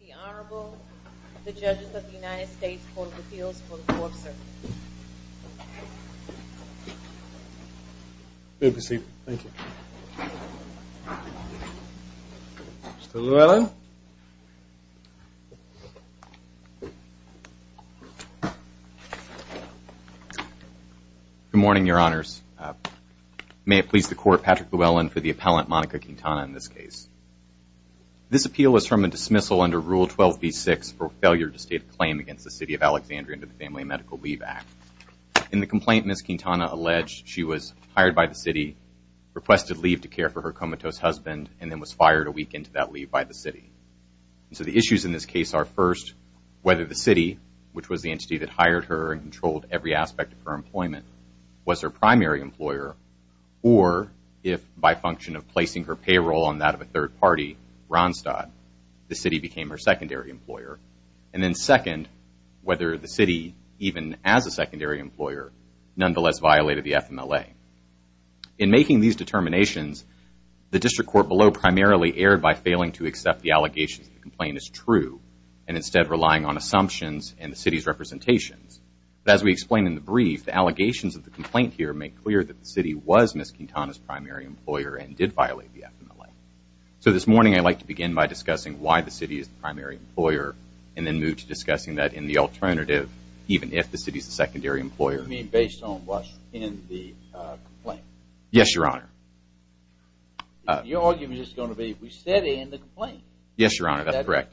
The Honorable, the Judges of the United States Court of Appeals for the Court of Circumstances. Thank you. Mr. Llewellyn. Good morning, Your Honors. May it please the Court, Patrick Llewellyn for the appellant, Monica Quintana in this case. This appeal is from a dismissal under Rule 12b-6 for failure to state a claim against the City of Alexandria under the Family and Medical Leave Act. In the complaint, Ms. Quintana alleged she was hired by the City, requested leave to care for her comatose husband, and then was fired a week into that leave by the City. So the issues in this case are first, whether the City, which was the entity that hired her and controlled every aspect of her employment, was her primary employer or if, by function of placing her payroll on that of a third party, Ronstadt, the City became her secondary employer. And then second, whether the City, even as a secondary employer, nonetheless violated the FMLA. In making these determinations, the District Court below primarily erred by failing to accept the allegations that the complaint is true and instead relying on assumptions and the City's representations. But as we explain in the brief, the allegations of the complaint here make clear that the City was Ms. Quintana's primary employer and did violate the FMLA. So this morning, I'd like to begin by discussing why the City is the primary employer and then move to discussing that in the alternative, even if the City is the secondary employer. You mean based on what's in the complaint? Yes, Your Honor. Your argument is going to be, we said in the complaint. Yes, Your Honor, that's correct.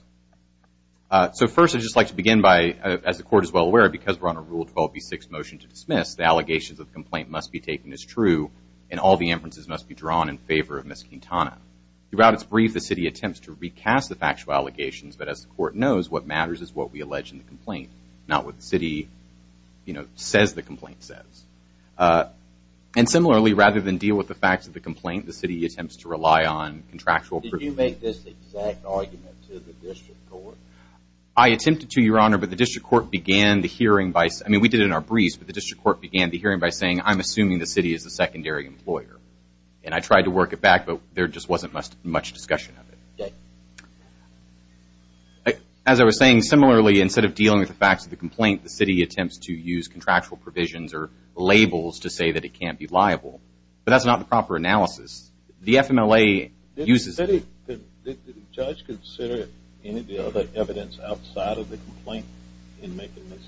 So first, I'd just like to begin by, as the Court is well aware, because we're on a Rule 12b-6 motion to dismiss, the allegations of the complaint must be taken as true and all the inferences must be drawn in favor of Ms. Quintana. Throughout its brief, the City attempts to recast the factual allegations, but as the Court knows, what matters is what we allege in the complaint, not what the City says the complaint says. And similarly, rather than deal with the facts of the complaint, the City attempts to rely on contractual proof. Did you make this exact argument to the District Court? I attempted to, Your Honor, but the District Court began the hearing by, I mean, we did it in our briefs, but the District Court began the hearing by saying, I'm assuming the City is the secondary employer. And I tried to work it back, but there just wasn't much discussion of it. As I was saying, similarly, instead of dealing with the facts of the complaint, the City attempts to use contractual provisions or labels to say that it can't be liable. But that's not the proper analysis. The FMLA uses it. Did the Judge consider any of the other evidence outside of the complaint in making this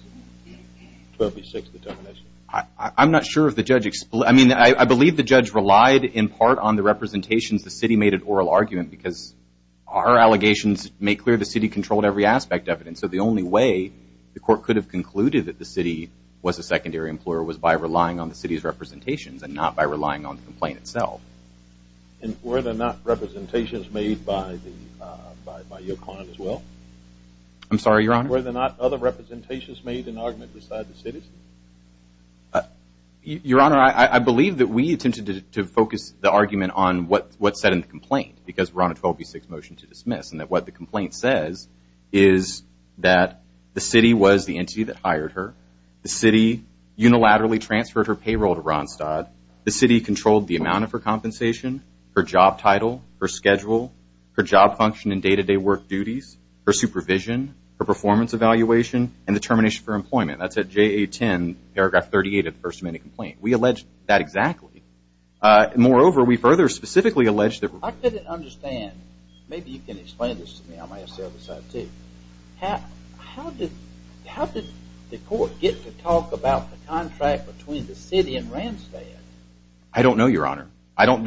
12B6 determination? I'm not sure if the Judge – I mean, I believe the Judge relied in part on the representations the City made at oral argument because our allegations make clear the City controlled every aspect of it. And so the only way the Court could have concluded that the City was a secondary employer was by relying on the City's representations and not by relying on the complaint itself. And were there not representations made by your client as well? I'm sorry, Your Honor? Were there not other representations made in argument beside the City's? Your Honor, I believe that we attempted to focus the argument on what's said in the complaint because we're on a 12B6 motion to dismiss and that what the complaint says is that the City was the entity that hired her. The City unilaterally transferred her payroll to Ronstadt. The City controlled the amount of her compensation, her job title, her schedule, her job function and day-to-day work duties, her supervision, her performance evaluation, and determination for employment. That's at JA 10, paragraph 38 of the First Amendment complaint. We allege that exactly. Moreover, we further specifically allege that – I couldn't understand – maybe you can explain this to me. I might as well decide to. How did the Court get to talk about the contract between the City and Ronstadt? I don't know, Your Honor. I don't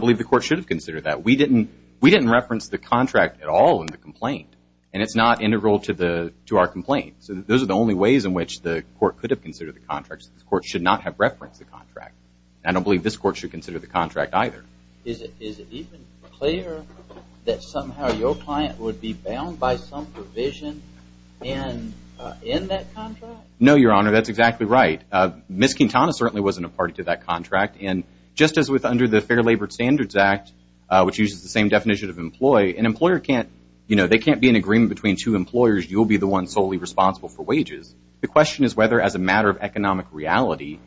believe the Court should have considered that. We didn't reference the contract at all in the complaint, and it's not integral to our complaint. So those are the only ways in which the Court could have considered the contract. The Court should not have referenced the contract. And I don't believe this Court should consider the contract either. Is it even clear that somehow your client would be bound by some provision in that contract? No, Your Honor. That's exactly right. Ms. Quintana certainly wasn't a party to that contract. And just as with under the Fair Labor Standards Act, which uses the same definition of employee, an employer can't – you know, there can't be an agreement between two employers. You'll be the one solely responsible for wages. The question is whether as a matter of economic reality,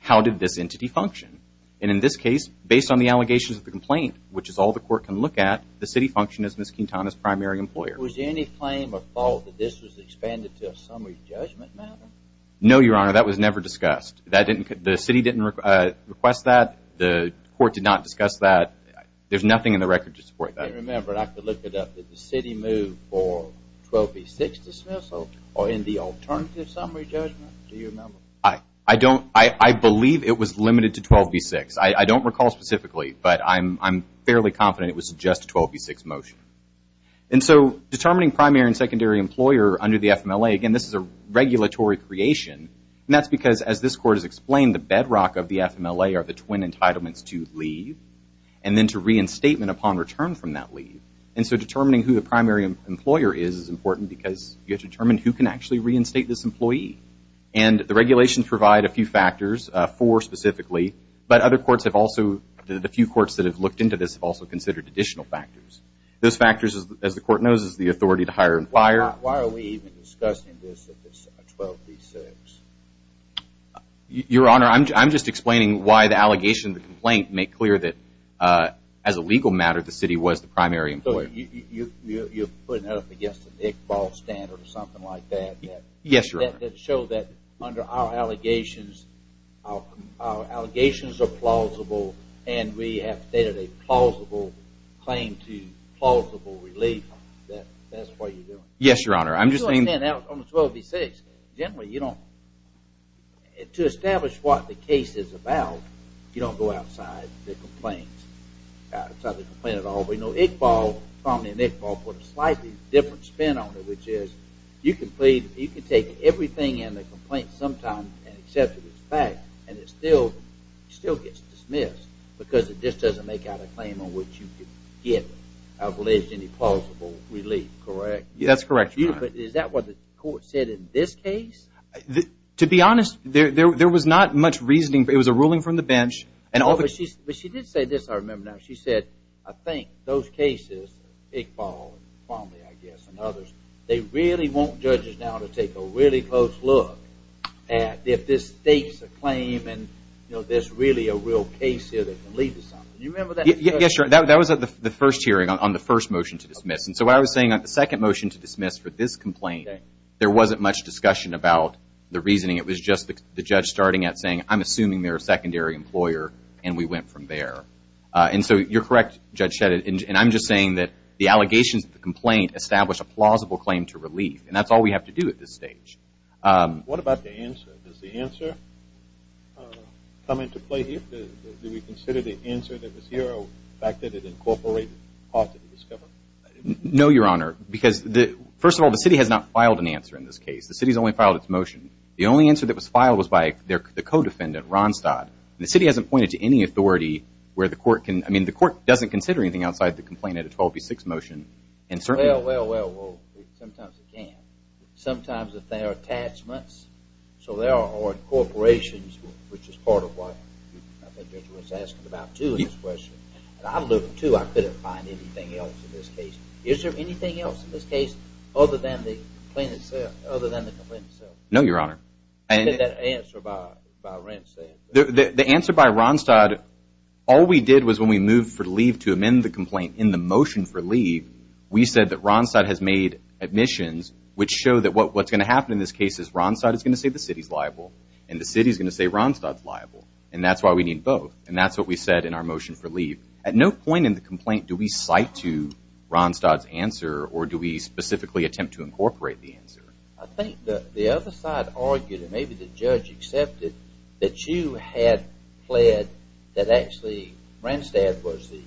how did this entity function? And in this case, based on the allegations of the complaint, which is all the Court can look at, the City functioned as Ms. Quintana's primary employer. Was there any claim or fault that this was expanded to a summary judgment matter? No, Your Honor. That was never discussed. The City didn't request that. The Court did not discuss that. There's nothing in the record to support that. And remember, I could look it up, did the City move for 12B6 dismissal or in the alternative summary judgment? Do you remember? No, I don't. I believe it was limited to 12B6. I don't recall specifically, but I'm fairly confident it was just a 12B6 motion. And so determining primary and secondary employer under the FMLA, again, this is a regulatory creation, and that's because as this Court has explained, the bedrock of the FMLA are the twin entitlements to leave and then to reinstatement upon return from that leave. And so determining who the primary employer is is important because you have to determine who can actually reinstate this employee. And the regulations provide a few factors, four specifically, but other courts have also, the few courts that have looked into this have also considered additional factors. Those factors, as the Court knows, is the authority to hire and fire. Why are we even discussing this if it's 12B6? Your Honor, I'm just explaining why the allegation, the complaint, make clear that as a legal matter the City was the primary employer. So you're putting that up against an Iqbal standard or something like that? Yes, Your Honor. That show that under our allegations, our allegations are plausible and we have stated a plausible claim to plausible relief. That's what you're doing? Yes, Your Honor. I'm just saying that on 12B6, generally, you don't, to establish what the case is about, you don't go outside the complaint, outside the complaint at all. We know Iqbal, Romney and Iqbal, put a slightly different spin on it, which is you can take everything in the complaint sometime and accept it as fact and it still gets dismissed because it just doesn't make out a claim on which you can get alleged any plausible relief, correct? That's correct, Your Honor. Is that what the Court said in this case? To be honest, there was not much reasoning. It was a ruling from the bench. But she did say this, I remember now. She said, I think those cases, Iqbal, Romney, I guess, and others, they really want judges now to take a really close look at if this states a claim and there's really a real case here that can lead to something. Do you remember that? Yes, Your Honor. That was at the first hearing on the first motion to dismiss. So what I was saying, the second motion to dismiss for this complaint, there wasn't much discussion about the reasoning. It was just the judge starting at saying, I'm assuming they're a secondary employer, and we went from there. And so you're correct, Judge Shedd, and I'm just saying that the allegations of the complaint establish a plausible claim to relief, and that's all we have to do at this stage. What about the answer? Does the answer come into play here? Do we consider the answer that was here or the fact that it incorporated parts of the discovery? No, Your Honor, because first of all, the city has not filed an answer in this case. The city has only filed its motion. The only answer that was filed was by the co-defendant, Ronstadt. The city hasn't pointed to any authority where the court can – I mean, the court doesn't consider anything outside the complaint at a 12B6 motion. Well, well, well, sometimes it can. Sometimes if there are attachments, so there are corporations, which is part of what I think Judge Wentz asked about too in his question. And I looked too. I couldn't find anything else in this case. Is there anything else in this case other than the complaint itself? No, Your Honor. What did that answer by Rents say? The answer by Ronstadt, all we did was when we moved for leave to amend the complaint in the motion for leave, we said that Ronstadt has made admissions, which show that what's going to happen in this case is Ronstadt is going to say the city is liable and the city is going to say Ronstadt is liable, and that's why we need both. And that's what we said in our motion for leave. At no point in the complaint do we cite to Ronstadt's answer or do we specifically attempt to incorporate the answer. I think the other side argued, and maybe the judge accepted, that you had pled that actually Ronstadt was the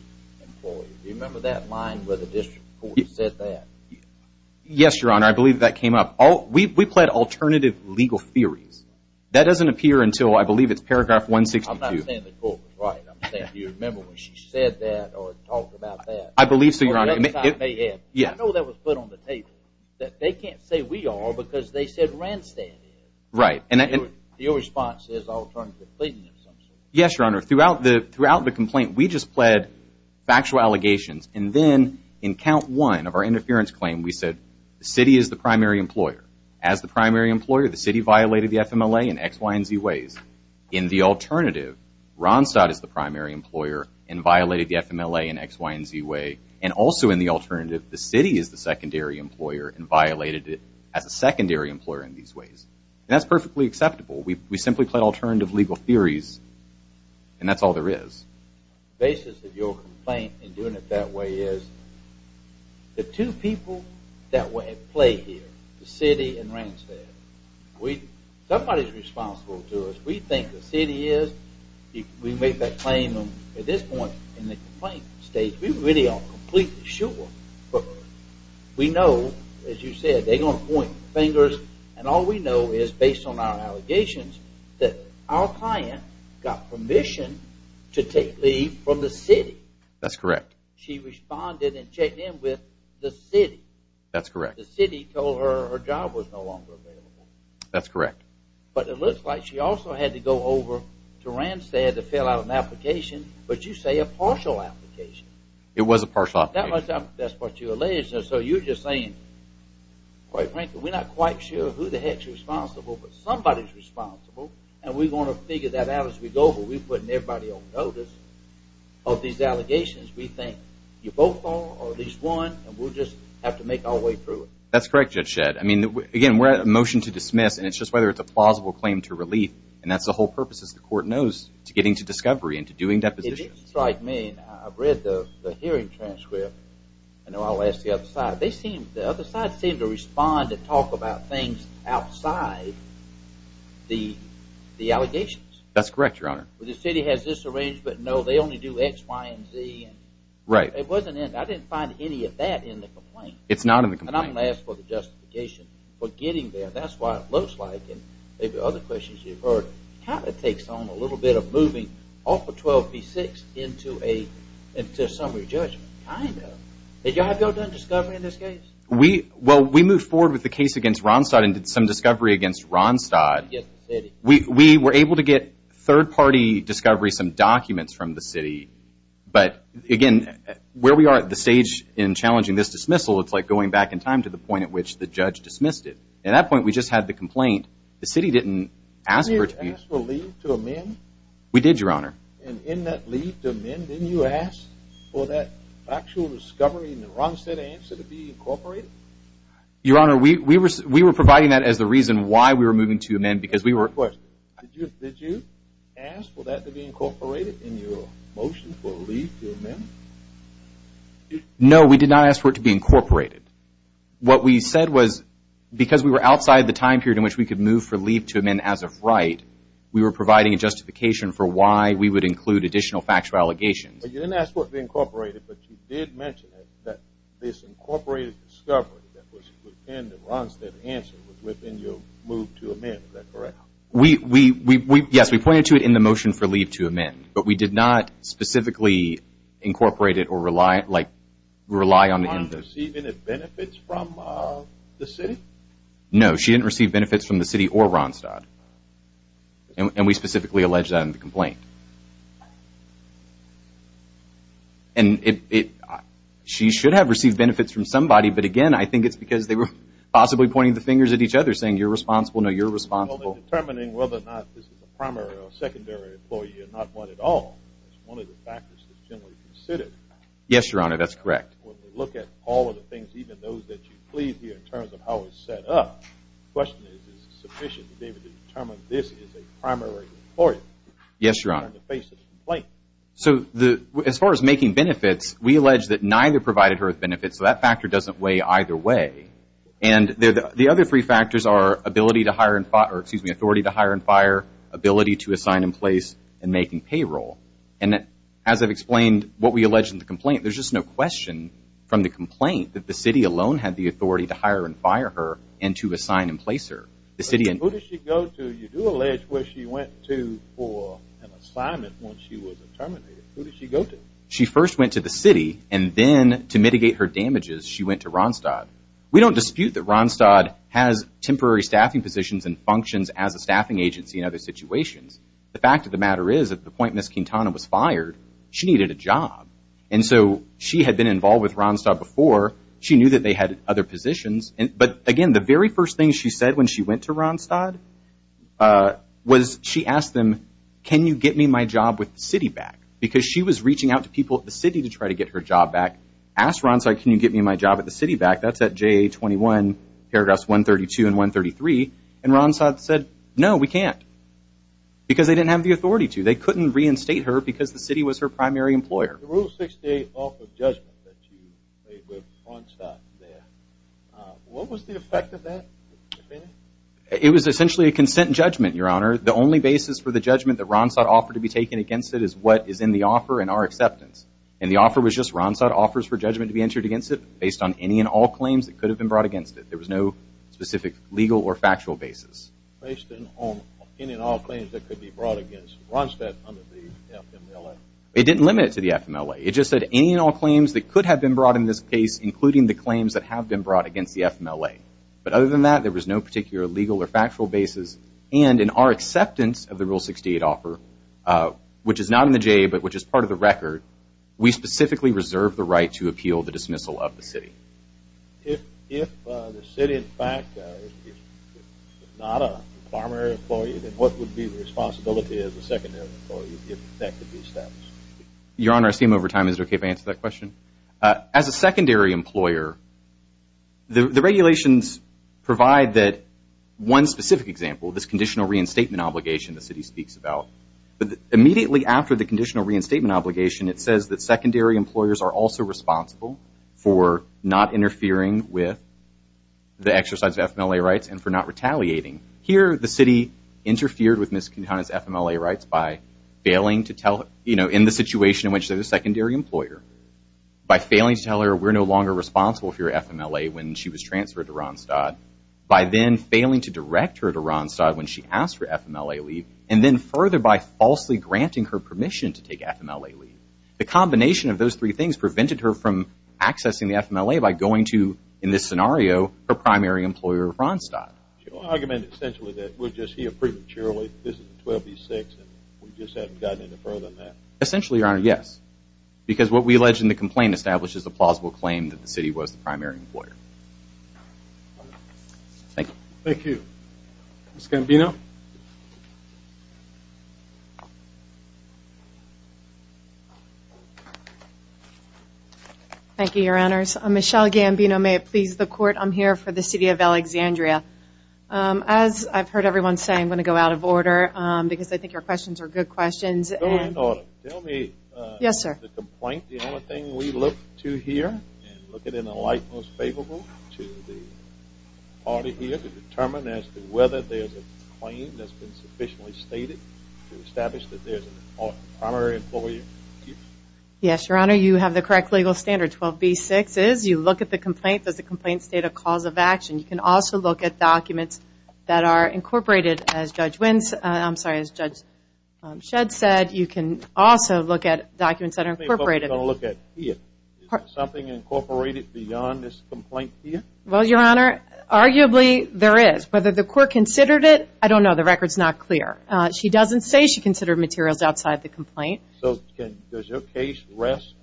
employee. Do you remember that line where the district court said that? Yes, Your Honor. I believe that came up. We pled alternative legal theories. That doesn't appear until I believe it's paragraph 162. I'm not saying the court was right. I'm saying do you remember when she said that or talked about that? I believe so, Your Honor. Or the other side may have. I know that was put on the table, that they can't say we are because they said Ronstadt is. Right. Your response is alternative pleading assumptions. Yes, Your Honor. Throughout the complaint we just pled factual allegations, and then in count one of our interference claim we said the city is the primary employer. As the primary employer, the city violated the FMLA in X, Y, and Z ways. In the alternative, Ronstadt is the primary employer and violated the FMLA in X, Y, and Z ways. And also in the alternative, the city is the secondary employer and violated it as a secondary employer in these ways. And that's perfectly acceptable. We simply pled alternative legal theories, and that's all there is. The basis of your complaint in doing it that way is the two people that were at play here, the city and Ronstadt, somebody is responsible to us. We think the city is. We make that claim. At this point in the complaint stage, we really aren't completely sure. We know, as you said, they're going to point fingers, and all we know is based on our allegations that our client got permission to take leave from the city. That's correct. She responded and checked in with the city. That's correct. The city told her her job was no longer available. That's correct. But it looks like she also had to go over to Ronstadt to fill out an application, but you say a partial application. It was a partial application. That's what you allege. So you're just saying, quite frankly, we're not quite sure who the heck is responsible, but somebody is responsible, and we're going to figure that out as we go, but we're putting everybody on notice of these allegations. We think you're both wrong or at least one, and we'll just have to make our way through it. That's correct, Judge Shedd. Again, we're at a motion to dismiss, and it's just whether it's a plausible claim to relief, and that's the whole purpose, as the court knows, to getting to discovery and to doing depositions. It didn't strike me, and I've read the hearing transcript. I know I'll ask the other side. The other side seemed to respond to talk about things outside the allegations. That's correct, Your Honor. The city has this arrangement. No, they only do X, Y, and Z. Right. I didn't find any of that in the complaint. It's not in the complaint. And I'm going to ask for the justification for getting there. That's what it looks like, and maybe other questions you've heard. It kind of takes on a little bit of moving off of 12B6 into a summary judgment, kind of. Did y'all go to discovery in this case? Well, we moved forward with the case against Ronstadt and did some discovery against Ronstadt. We were able to get third-party discovery, some documents from the city, but, again, where we are at the stage in challenging this dismissal, it's like going back in time to the point at which the judge dismissed it. At that point, we just had the complaint. The city didn't ask for it to be— Did you ask for leave to amend? We did, Your Honor. And in that leave to amend, didn't you ask for that actual discovery in the Ronstadt answer to be incorporated? Your Honor, we were providing that as the reason why we were moving to amend because we were— No, we did not ask for it to be incorporated. What we said was because we were outside the time period in which we could move for leave to amend as of right, we were providing a justification for why we would include additional factual allegations. But you didn't ask for it to be incorporated, but you did mention that this incorporated discovery that was within the Ronstadt answer was within your move to amend. Is that correct? But we did not specifically incorporate it or rely on the— Your Honor, did she receive any benefits from the city? No, she didn't receive benefits from the city or Ronstadt, and we specifically alleged that in the complaint. And she should have received benefits from somebody, but again, I think it's because they were possibly pointing the fingers at each other, saying you're responsible, no, you're responsible. Well, in determining whether or not this is a primary or secondary employee or not one at all, it's one of the factors that's generally considered. Yes, Your Honor, that's correct. When we look at all of the things, even those that you plead here in terms of how it's set up, the question is, is it sufficient, David, to determine this is a primary employee? Yes, Your Honor. In order to face this complaint. So as far as making benefits, we allege that neither provided her with benefits, so that factor doesn't weigh either way. And the other three factors are authority to hire and fire, ability to assign and place, and making payroll. And as I've explained what we allege in the complaint, there's just no question from the complaint that the city alone had the authority to hire and fire her and to assign and place her. Who did she go to? You do allege where she went to for an assignment once she was terminated. Who did she go to? She first went to the city, and then to mitigate her damages, she went to Ronstadt. We don't dispute that Ronstadt has temporary staffing positions and functions as a staffing agency in other situations. The fact of the matter is at the point Ms. Quintana was fired, she needed a job. And so she had been involved with Ronstadt before. She knew that they had other positions. But again, the very first thing she said when she went to Ronstadt was she asked them, can you get me my job with the city back? Because she was reaching out to people at the city to try to get her job back. Asked Ronstadt, can you get me my job at the city back? That's at JA-21, paragraphs 132 and 133. And Ronstadt said, no, we can't, because they didn't have the authority to. They couldn't reinstate her because the city was her primary employer. The Rule 68 offer of judgment that you made with Ronstadt there, what was the effect of that? It was essentially a consent judgment, Your Honor. The only basis for the judgment that Ronstadt offered to be taken against it is what is in the offer and our acceptance. And the offer was just Ronstadt offers for judgment to be entered against it based on any and all claims that could have been brought against it. There was no specific legal or factual basis. Based on any and all claims that could be brought against Ronstadt under the FMLA? It didn't limit it to the FMLA. It just said any and all claims that could have been brought in this case, including the claims that have been brought against the FMLA. But other than that, there was no particular legal or factual basis. And in our acceptance of the Rule 68 offer, which is not in the JA, but which is part of the record, we specifically reserve the right to appeal the dismissal of the city. If the city, in fact, is not a primary employee, then what would be the responsibility as a secondary employee if that could be established? Your Honor, I assume over time is it okay if I answer that question? As a secondary employer, the regulations provide that one specific example, this conditional reinstatement obligation the city speaks about, immediately after the conditional reinstatement obligation, it says that secondary employers are also responsible for not interfering with the exercise of FMLA rights and for not retaliating. Here, the city interfered with Ms. Kuntana's FMLA rights in the situation in which they're the secondary employer by failing to tell her we're no longer responsible for your FMLA when she was transferred to Ronstadt, by then failing to direct her to Ronstadt when she asked for FMLA leave, and then further by falsely granting her permission to take FMLA leave. The combination of those three things prevented her from accessing the FMLA by going to, in this scenario, her primary employer of Ronstadt. So you're arguing essentially that we're just here prematurely, this is in 12-B-6, and we just haven't gotten any further than that? Essentially, Your Honor, yes. Because what we allege in the complaint establishes a plausible claim that the city was the primary employer. Thank you. Thank you. Ms. Gambino? Thank you, Your Honors. I'm Michelle Gambino. May it please the Court, I'm here for the city of Alexandria. As I've heard everyone say, I'm going to go out of order because I think your questions are good questions. Go ahead, Your Honor. Tell me about the complaint. The only thing we look to here, and look at it in a light most favorable to the party here to determine as to whether there's a claim that's been sufficiently stated to establish that there's a primary employer. Thank you. Yes, Your Honor, you have the correct legal standards. 12-B-6 is, you look at the complaint, does the complaint state a cause of action? You can also look at documents that are incorporated, as Judge Shedd said. You can also look at documents that are incorporated. Is there something incorporated beyond this complaint here? Well, Your Honor, arguably there is. Whether the Court considered it, I don't know. The record's not clear. She doesn't say she considered materials outside the complaint. So does your case rest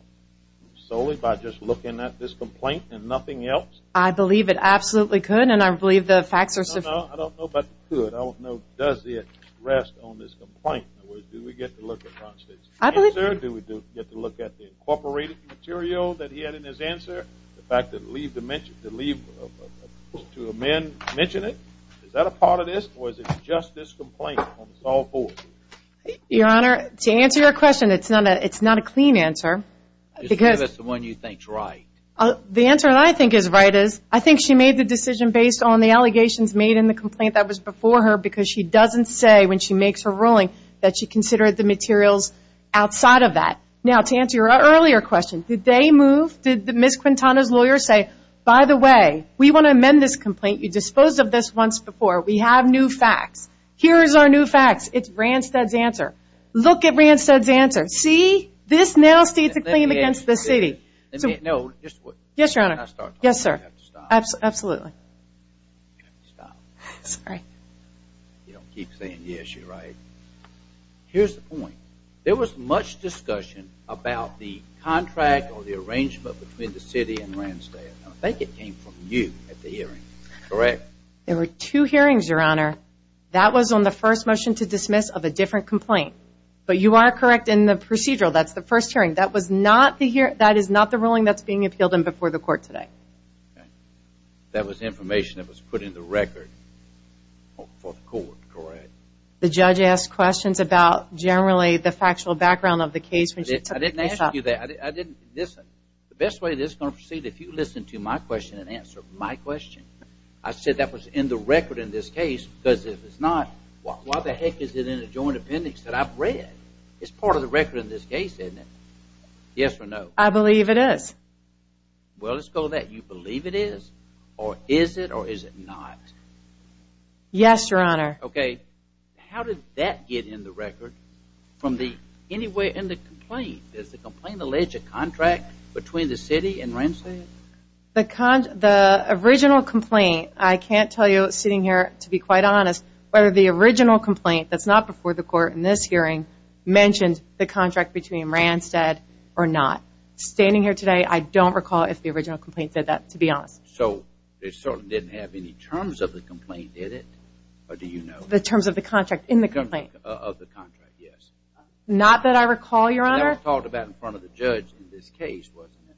solely by just looking at this complaint and nothing else? I believe it absolutely could, and I believe the facts are sufficient. No, no, I don't know about the could. I want to know does it rest on this complaint? In other words, do we get to look across this? Answer, do we get to look at the incorporated material that he had in his answer? The fact that the leave to amend mentioned it? Is that a part of this, or is it just this complaint? Your Honor, to answer your question, it's not a clean answer. Just give us the one you think's right. The answer that I think is right is I think she made the decision based on the allegations made in the complaint that was before her because she doesn't say when she makes her ruling that she considered the materials outside of that. Now, to answer your earlier question, did they move? Did Ms. Quintana's lawyer say, by the way, we want to amend this complaint. You disposed of this once before. We have new facts. Here is our new facts. It's Ranstad's answer. Look at Ranstad's answer. See? This now states a claim against the city. Let me know. Yes, Your Honor. Can I start talking? Yes, sir. You have to stop. Absolutely. You have to stop. Sorry. You don't keep saying yes, you're right. Here's the point. There was much discussion about the contract or the arrangement between the city and Ranstad. I think it came from you at the hearing. Correct. There were two hearings, Your Honor. That was on the first motion to dismiss of a different complaint. But you are correct in the procedural. That's the first hearing. That is not the ruling that's being appealed in before the court today. Okay. That was information that was put in the record for the court, correct? The judge asked questions about generally the factual background of the case. I didn't ask you that. I didn't. Listen. The best way this is going to proceed, if you listen to my question and answer my question. I said that was in the record in this case because if it's not, why the heck is it in the joint appendix that I've read? It's part of the record in this case, isn't it? Yes or no? I believe it is. Well, let's go with that. Do you believe it is? Or is it? Or is it not? Yes, Your Honor. Okay. How did that get in the record from anywhere in the complaint? Does the complaint allege a contract between the city and Randstead? The original complaint, I can't tell you sitting here, to be quite honest, whether the original complaint that's not before the court in this hearing mentioned the contract between Randstead or not. Standing here today, I don't recall if the original complaint said that, to be honest. So, it certainly didn't have any terms of the complaint, did it? Or do you know? The terms of the contract in the complaint? Of the contract, yes. Not that I recall, Your Honor. And that was talked about in front of the judge in this case, wasn't it?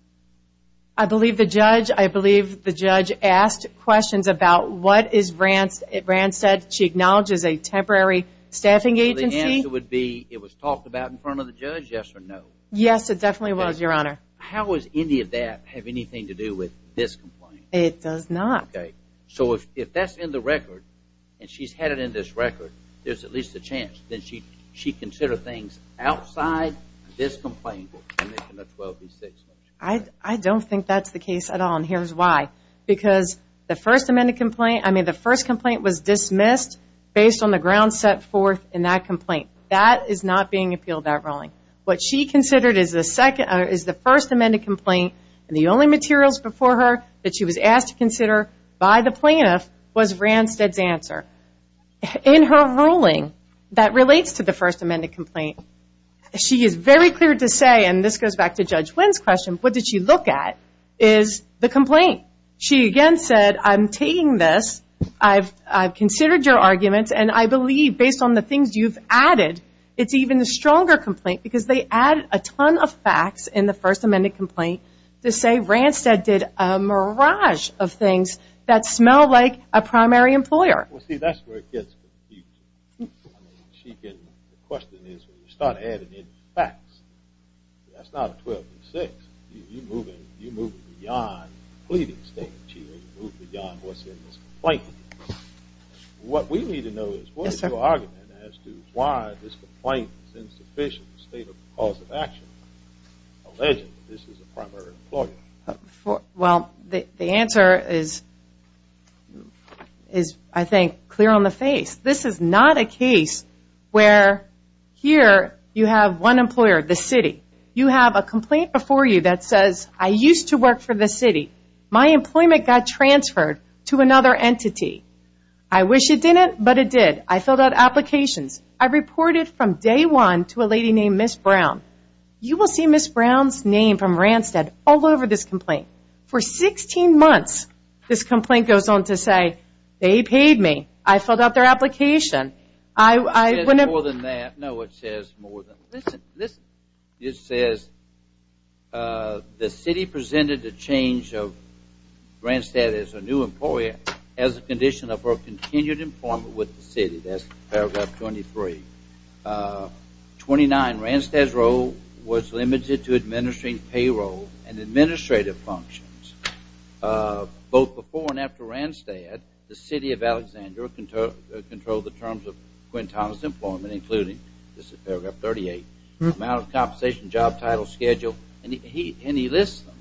I believe the judge, I believe the judge asked questions about what is Randstead. She acknowledges a temporary staffing agency. So, the answer would be it was talked about in front of the judge, yes or no? Yes, it definitely was, Your Honor. How does any of that have anything to do with this complaint? It does not. Okay. So, if that's in the record, and she's had it in this record, there's at least a chance that she considered things outside this complaint. I don't think that's the case at all, and here's why. Because the first amended complaint, I mean, the first complaint was dismissed based on the grounds set forth in that complaint. That is not being appealed at rolling. What she considered is the first amended complaint, and the only materials before her that she was asked to consider by the plaintiff was Randstead's answer. In her ruling that relates to the first amended complaint, she is very clear to say, and this goes back to Judge Wynn's question, what did she look at is the complaint. She again said, I'm taking this, I've considered your arguments, and I believe based on the stronger complaint, because they added a ton of facts in the first amended complaint to say Randstead did a mirage of things that smell like a primary employer. Well, see, that's where it gets confusing. I mean, she can, the question is, when you start adding in facts, that's not a 12 and six. You move in, you move beyond pleading statement. You move beyond what's in this complaint. What we need to know is, what is your argument as to why this complaint is insufficient in the state of cause of action, alleging that this is a primary employer? Well, the answer is, I think, clear on the face. This is not a case where here you have one employer, the city. You have a complaint before you that says, I used to work for the city. My employment got transferred to another entity. I wish it didn't, but it did. I filled out applications. I reported from day one to a lady named Ms. Brown. You will see Ms. Brown's name from Randstead all over this complaint. For 16 months, this complaint goes on to say, they paid me. I filled out their application. It says more than that. No, it says more than that. It says, the city presented a change of Randstead as a new employer as a condition of her continued employment with the city. That's paragraph 23. 29, Randstead's role was limited to administering payroll and administrative functions. Both before and after Randstead, the city of Alexandria controlled the terms of Quintana's compensation job title schedule, and he lists them.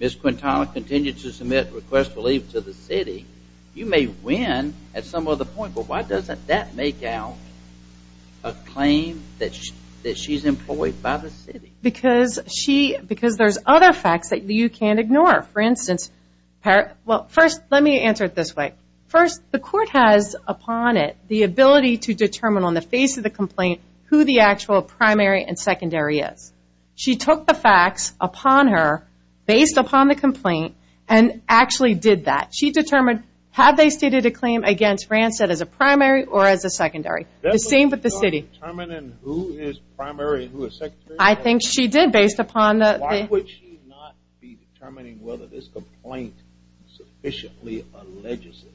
Ms. Quintana continued to submit requests for leave to the city. You may win at some other point, but why doesn't that make out a claim that she's employed by the city? Because there's other facts that you can't ignore. For instance, well, first let me answer it this way. First, the court has upon it the ability to determine on the face of the complaint who the actual primary and secondary is. She took the facts upon her, based upon the complaint, and actually did that. She determined, have they stated a claim against Randstead as a primary or as a secondary? The same with the city. She's not determining who is primary and who is secondary? I think she did, based upon the- Why would she not be determining whether this complaint sufficiently alleges it?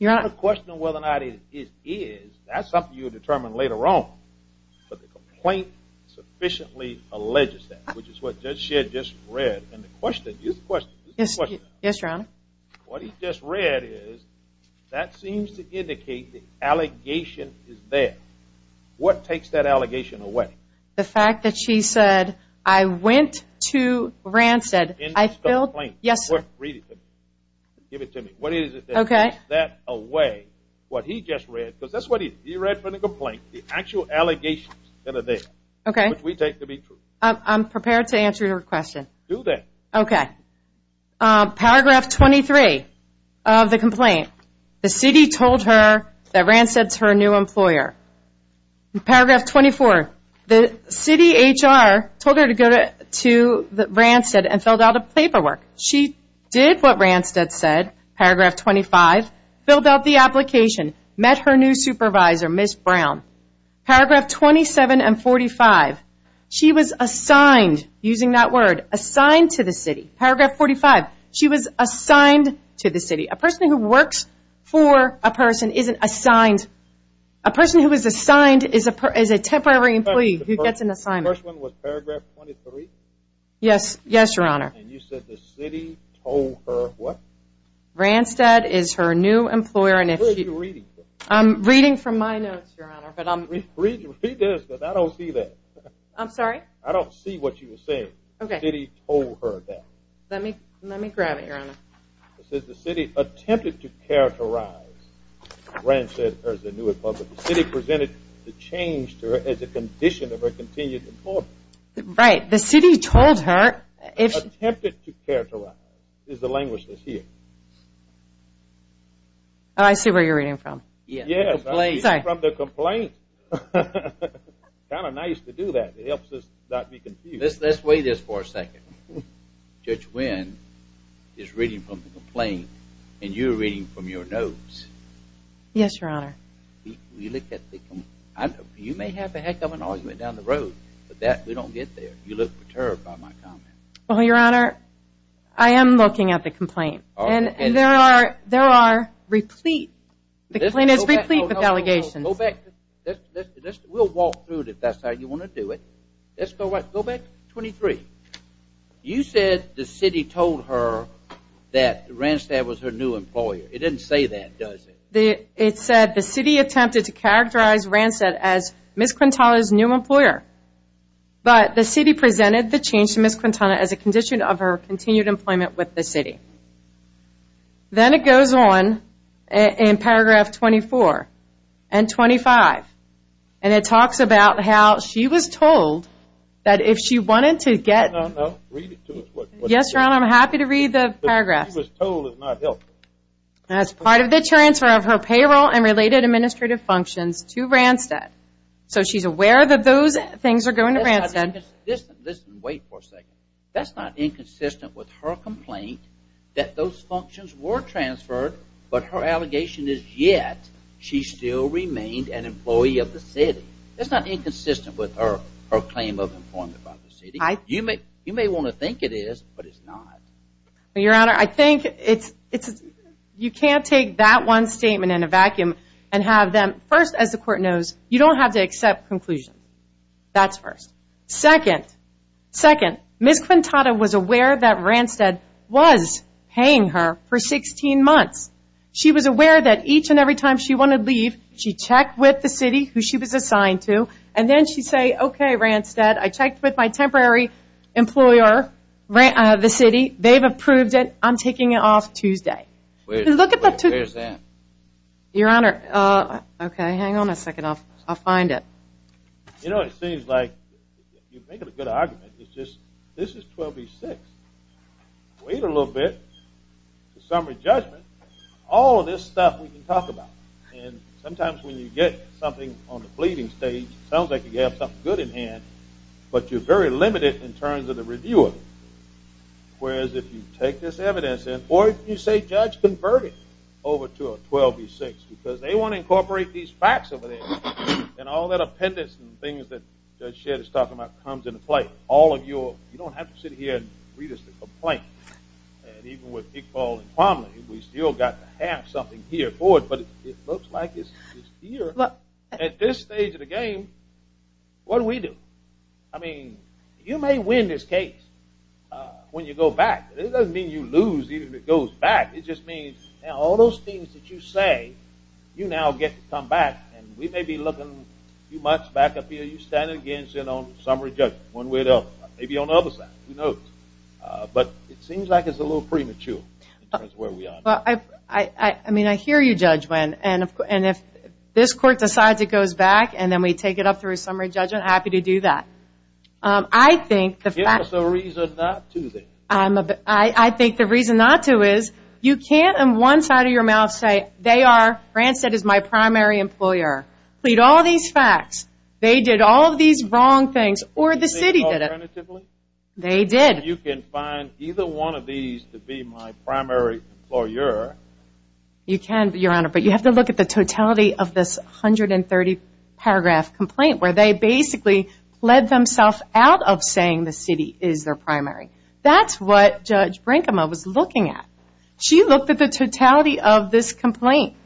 Your Honor, the question of whether or not it is, that's something you determine later on. But the complaint sufficiently alleges that, which is what Judge Shedd just read. And the question, use the question. Yes, Your Honor. What he just read is, that seems to indicate the allegation is there. What takes that allegation away? The fact that she said, I went to Randstead. End this complaint. Yes, sir. Read it to me. Give it to me. What is it that takes that away? What he just read. Because that's what he read from the complaint. The actual allegations that are there. Okay. Which we take to be true. I'm prepared to answer your question. Do that. Okay. Paragraph 23 of the complaint. The city told her that Randstead's her new employer. Paragraph 24. The city HR told her to go to Randstead and filled out a paperwork. She did what Randstead said. Paragraph 25. Filled out the application. Met her new supervisor, Ms. Brown. Paragraph 27 and 45. She was assigned, using that word, assigned to the city. Paragraph 45. She was assigned to the city. A person who works for a person isn't assigned. A person who is assigned is a temporary employee who gets an assignment. The first one was paragraph 23? Yes. Yes, Your Honor. And you said the city told her what? Randstead is her new employer. Where are you reading from? I'm reading from my notes, Your Honor. Read this because I don't see that. I'm sorry? I don't see what you're saying. Okay. The city told her that. Let me grab it, Your Honor. It says the city attempted to characterize Randstead as a new employer. The city presented the change to her as a condition of her continued employment. Right. The city told her. Attempted to characterize is the language that's here. I see where you're reading from. Yes. I'm reading from the complaint. Kind of nice to do that. It helps us not be confused. Let's wait this for a second. Judge Wynn is reading from the complaint, and you're reading from your notes. Yes, Your Honor. You may have a heck of an argument down the road, but we don't get there. You look perturbed by my comment. Well, Your Honor, I am looking at the complaint. And there are replete. The complaint is replete with allegations. Go back. We'll walk through it if that's how you want to do it. Let's go back 23. You said the city told her that Randstead was her new employer. It didn't say that, does it? It said the city attempted to characterize Randstead as Ms. Quintana's new employer. But the city presented the change to Ms. Quintana as a condition of her continued employment with the city. Then it goes on in paragraph 24 and 25, and it talks about how she was told that if she wanted to get to Randstead. No, no, read it to us. Yes, Your Honor, I'm happy to read the paragraph. But she was told it's not helpful. As part of the transfer of her payroll and related administrative functions to Randstead. So she's aware that those things are going to Randstead. Listen, wait for a second. That's not inconsistent with her complaint that those functions were transferred, but her allegation is yet she still remained an employee of the city. That's not inconsistent with her claim of employment by the city. You may want to think it is, but it's not. Your Honor, I think you can't take that one statement in a vacuum and have them. First, as the court knows, you don't have to accept conclusions. That's first. Second, Ms. Quintana was aware that Randstead was paying her for 16 months. She was aware that each and every time she wanted to leave, she'd check with the city who she was assigned to, and then she'd say, okay, Randstead, I checked with my temporary employer, the city. They've approved it. I'm taking it off Tuesday. Where's that? Your Honor, okay, hang on a second. I'll find it. You know, it seems like you're making a good argument. It's just this is 12B-6. Wait a little bit to summary judgment. All of this stuff we can talk about, and sometimes when you get something on the pleading stage, it sounds like you have something good in hand, but you're very limited in terms of the review of it, whereas if you take this evidence or if you say judge convert it over to a 12B-6 because they want to incorporate these facts over there and all that appendix and things that Judge Shedd is talking about comes into play. You don't have to sit here and read us a complaint, and even with Big Paul and Plumlee, we've still got to have something here for it, but it looks like it's here. At this stage of the game, what do we do? I mean, you may win this case when you go back. It doesn't mean you lose even if it goes back. It just means all those things that you say, you now get to come back, and we may be looking a few months back up here. You're standing against it on summary judgment one way or the other, maybe on the other side, who knows? But it seems like it's a little premature in terms of where we are. I mean, I hear you, Judge Wynn, and if this court decides it goes back and then we take it up through a summary judgment, I'm happy to do that. Give us a reason not to then. I think the reason not to is you can't in one side of your mouth say, they are, Grant said, is my primary employer. Plead all these facts. They did all of these wrong things, or the city did it. Did they do it alternatively? They did. You can find either one of these to be my primary employer. You can, Your Honor, but you have to look at the totality of this 130-paragraph complaint where they basically pled themselves out of saying the city is their primary. That's what Judge Brinkema was looking at. She looked at the totality of this complaint.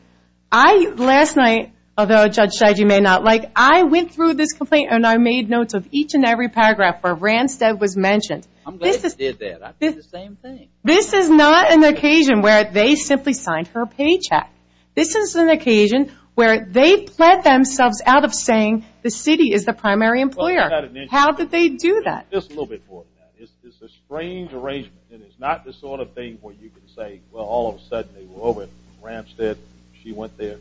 I, last night, although Judge Scheide may not like, I went through this complaint and I made notes of each and every paragraph where Randstad was mentioned. I'm glad you did that. I did the same thing. This is not an occasion where they simply signed her paycheck. This is an occasion where they pled themselves out of saying the city is the primary employer. How did they do that? Just a little bit more than that. It's a strange arrangement, and it's not the sort of thing where you can say, well, all of a sudden they were over at Randstad, she went there.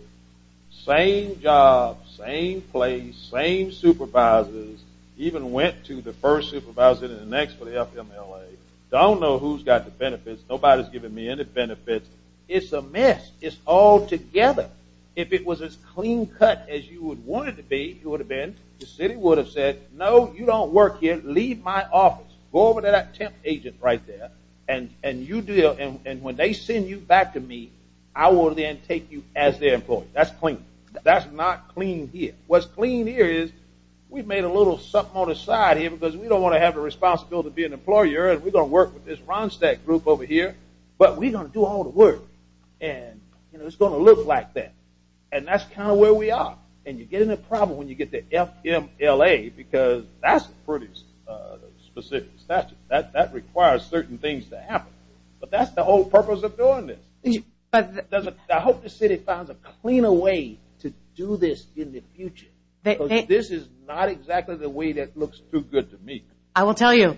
Same job, same place, same supervisors, even went to the first supervisor and the next for the FMLA. Don't know who's got the benefits. Nobody's given me any benefits. It's a mess. It's all together. If it was as clean cut as you would want it to be, it would have been, the city would have said, no, you don't work here. Leave my office. Go over to that temp agent right there, and you deal. And when they send you back to me, I will then take you as their employee. That's clean. That's not clean here. What's clean here is we've made a little something on the side here because we don't want to have the responsibility of being an employer, and we're going to work with this Randstad group over here, but we're going to do all the work, and it's going to look like that. And that's kind of where we are. And you get in a problem when you get the FMLA because that's pretty specific. That requires certain things to happen. But that's the whole purpose of doing this. I hope the city finds a cleaner way to do this in the future. This is not exactly the way that looks too good to me. I will tell you.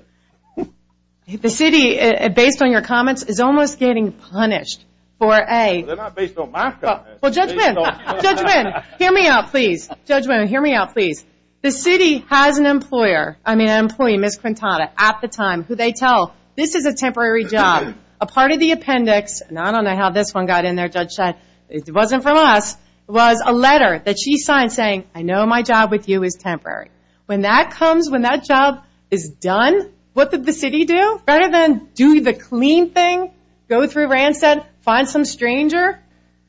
The city, based on your comments, is almost getting punished for A. They're not based on my comments. Well, Judge Wynn, hear me out, please. Judge Wynn, hear me out, please. The city has an employer, I mean an employee, Ms. Quintana, at the time, who they tell this is a temporary job. A part of the appendix, and I don't know how this one got in there, Judge Chen, it wasn't from us, was a letter that she signed saying, I know my job with you is temporary. When that comes, when that job is done, what did the city do? Rather than do the clean thing, go through rancid, find some stranger,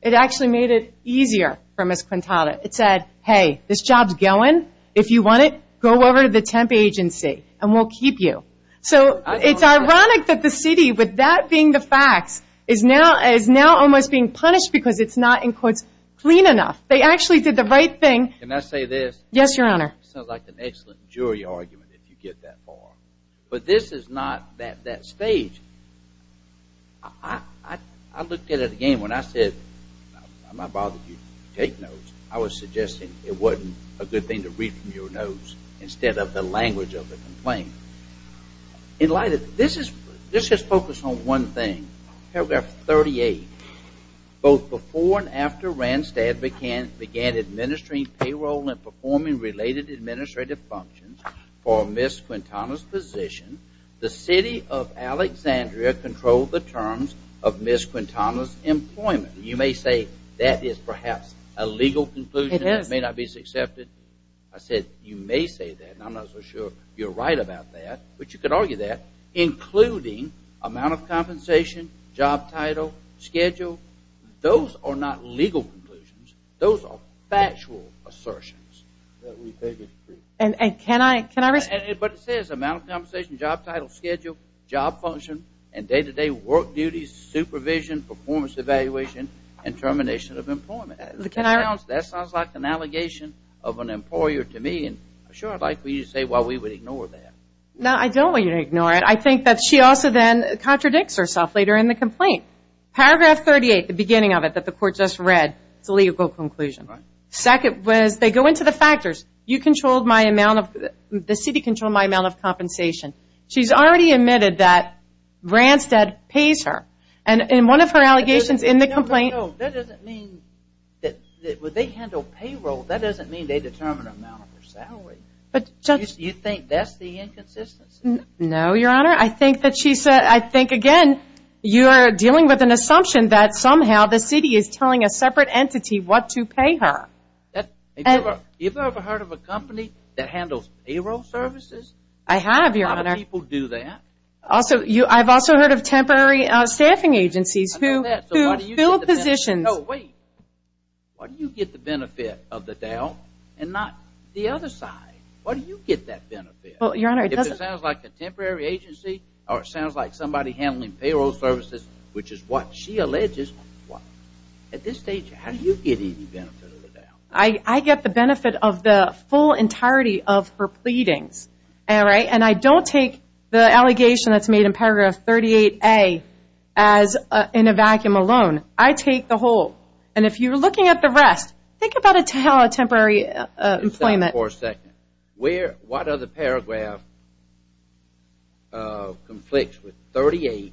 it actually made it easier for Ms. Quintana. It said, hey, this job's going. If you want it, go over to the temp agency and we'll keep you. So it's ironic that the city, with that being the facts, is now almost being punished because it's not, in quotes, clean enough. They actually did the right thing. Can I say this? Yes, Your Honor. Sounds like an excellent jury argument, if you get that far. But this is not that stage. I looked at it again when I said, I'm not bothering you. Take notes. I was suggesting it wasn't a good thing to read from your notes instead of the language of the complaint. This is focused on one thing, paragraph 38. Both before and after Randstad began administering payroll and performing related administrative functions for Ms. Quintana's position, the city of Alexandria controlled the terms of Ms. Quintana's employment. You may say that is perhaps a legal conclusion. It is. It may not be accepted. I said, you may say that, and I'm not so sure you're right about that, but you could argue that, including amount of compensation, job title, schedule, those are not legal conclusions. Those are factual assertions. Can I respond? But it says amount of compensation, job title, schedule, job function, and day-to-day work duties, supervision, performance evaluation, and termination of employment. That sounds like an allegation of an employer to me, and I'm sure I'd like for you to say why we would ignore that. No, I don't want you to ignore it. I think that she also then contradicts herself later in the complaint. Paragraph 38, the beginning of it that the court just read, it's a legal conclusion. Second was they go into the factors. You controlled my amount of the city controlled my amount of compensation. She's already admitted that Randstad pays her, and in one of her allegations in the complaint. No, that doesn't mean that they handle payroll. That doesn't mean they determine amount of her salary. You think that's the inconsistency? No, Your Honor. I think that she said, I think, again, you are dealing with an assumption that somehow the city is telling a separate entity what to pay her. Have you ever heard of a company that handles payroll services? I have, Your Honor. A lot of people do that. I've also heard of temporary staffing agencies who fill positions. No, wait. Why do you get the benefit of the doubt and not the other side? Why do you get that benefit? If it sounds like a temporary agency or it sounds like somebody handling payroll services, which is what she alleges, at this stage how do you get any benefit of the doubt? I get the benefit of the full entirety of her pleadings, all right? And I don't take the allegation that's made in paragraph 38A as in a vacuum alone. I take the whole. And if you're looking at the rest, think about a temporary employment. What other paragraph conflicts with 38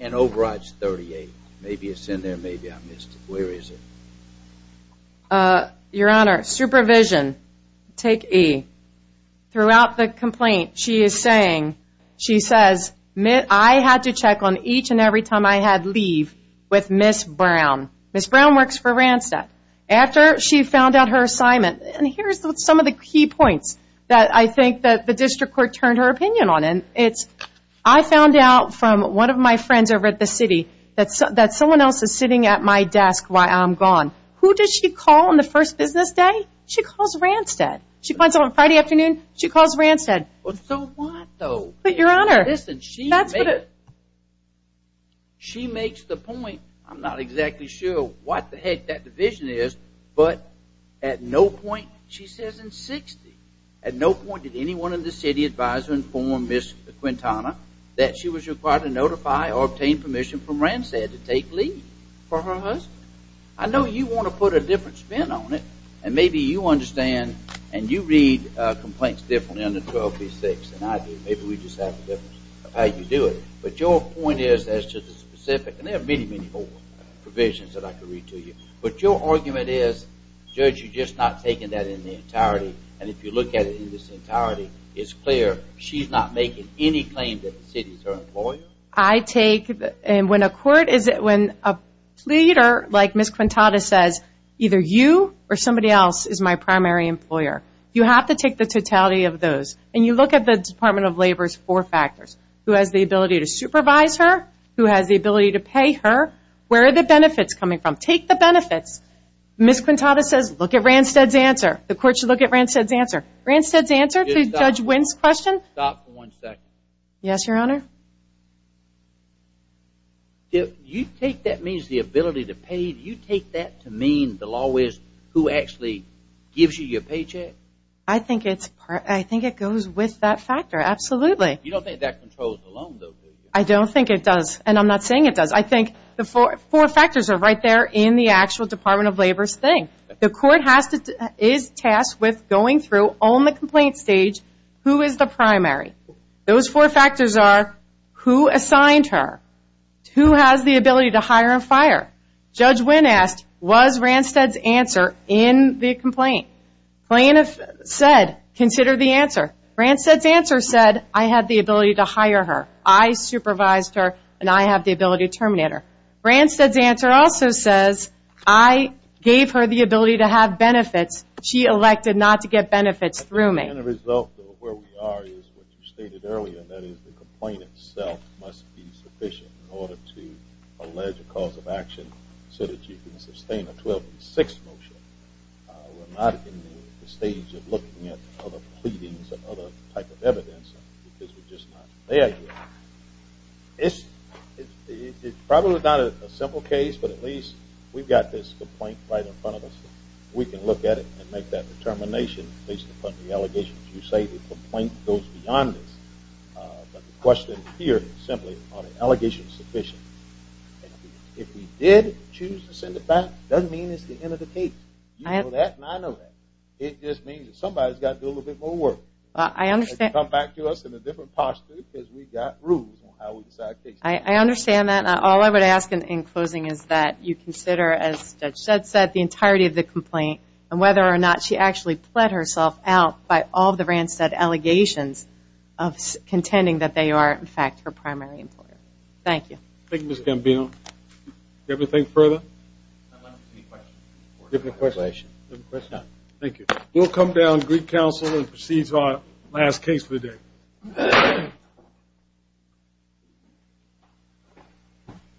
and overrides 38? Maybe it's in there. Maybe I missed it. Where is it? Your Honor, supervision. Take E. Throughout the complaint she is saying, she says, I had to check on each and every time I had leave with Ms. Brown. Ms. Brown works for Randstad. After she found out her assignment, and here's some of the key points that I think that the district court turned her opinion on, and it's I found out from one of my friends over at the city that someone else is sitting at my desk while I'm gone. Who does she call on the first business day? She calls Randstad. She finds out on Friday afternoon, she calls Randstad. So what though? But, Your Honor, listen, she makes the point, I'm not exactly sure what the heck that division is, but at no point, she says in 60, at no point did anyone in the city advisor inform Ms. Quintana that she was required to notify or obtain permission from Randstad to take leave for her husband. I know you want to put a different spin on it, and maybe you understand and you read complaints differently on the 12B6 than I do. Maybe we just have a difference of how you do it. But your point is as to the specific, and there are many, many more provisions that I could read to you, but your argument is, Judge, you're just not taking that in the entirety. And if you look at it in its entirety, it's clear. She's not making any claim that the city is her employer. I take, and when a court, when a pleader like Ms. Quintana says, either you or somebody else is my primary employer, you have to take the totality of those. And you look at the Department of Labor's four factors, who has the ability to supervise her, who has the ability to pay her, where are the benefits coming from? Take the benefits. Ms. Quintana says look at Randstad's answer. The court should look at Randstad's answer. Randstad's answer to Judge Wynn's question? Stop for one second. Yes, Your Honor. You take that means the ability to pay, you take that to mean the law is who actually gives you your paycheck? I think it goes with that factor, absolutely. You don't think that controls the loan, though, do you? I don't think it does, and I'm not saying it does. I think the four factors are right there in the actual Department of Labor's thing. The court is tasked with going through on the complaint stage who is the primary. Those four factors are who assigned her, who has the ability to hire and fire. Judge Wynn asked was Randstad's answer in the complaint. Plaintiff said consider the answer. Randstad's answer said I had the ability to hire her. I supervised her, and I have the ability to terminate her. Randstad's answer also says I gave her the ability to have benefits. She elected not to get benefits through me. The end result of where we are is what you stated earlier, and that is the complaint itself must be sufficient in order to allege a cause of action so that you can sustain a 12-6 motion. We're not in the stage of looking at other pleadings or other type of evidence because we're just not there yet. It's probably not a simple case, but at least we've got this complaint right in front of us. If we can look at it and make that determination based upon the allegations you say, the complaint goes beyond this. But the question here is simply are the allegations sufficient? If we did choose to send it back, it doesn't mean it's the end of the case. You know that, and I know that. It just means that somebody's got to do a little bit more work. Come back to us in a different posture because we've got rules on how we decide cases. I understand that. All I would ask in closing is that you consider, as Judge Shedd said, the entirety of the complaint and whether or not she actually pled herself out by all the Randstad allegations of contending that they are, in fact, her primary employer. Thank you. Thank you, Ms. Gambino. Do you have anything further? Any questions? No. Thank you. We'll come down to Greek Council and proceed to our last case for the day.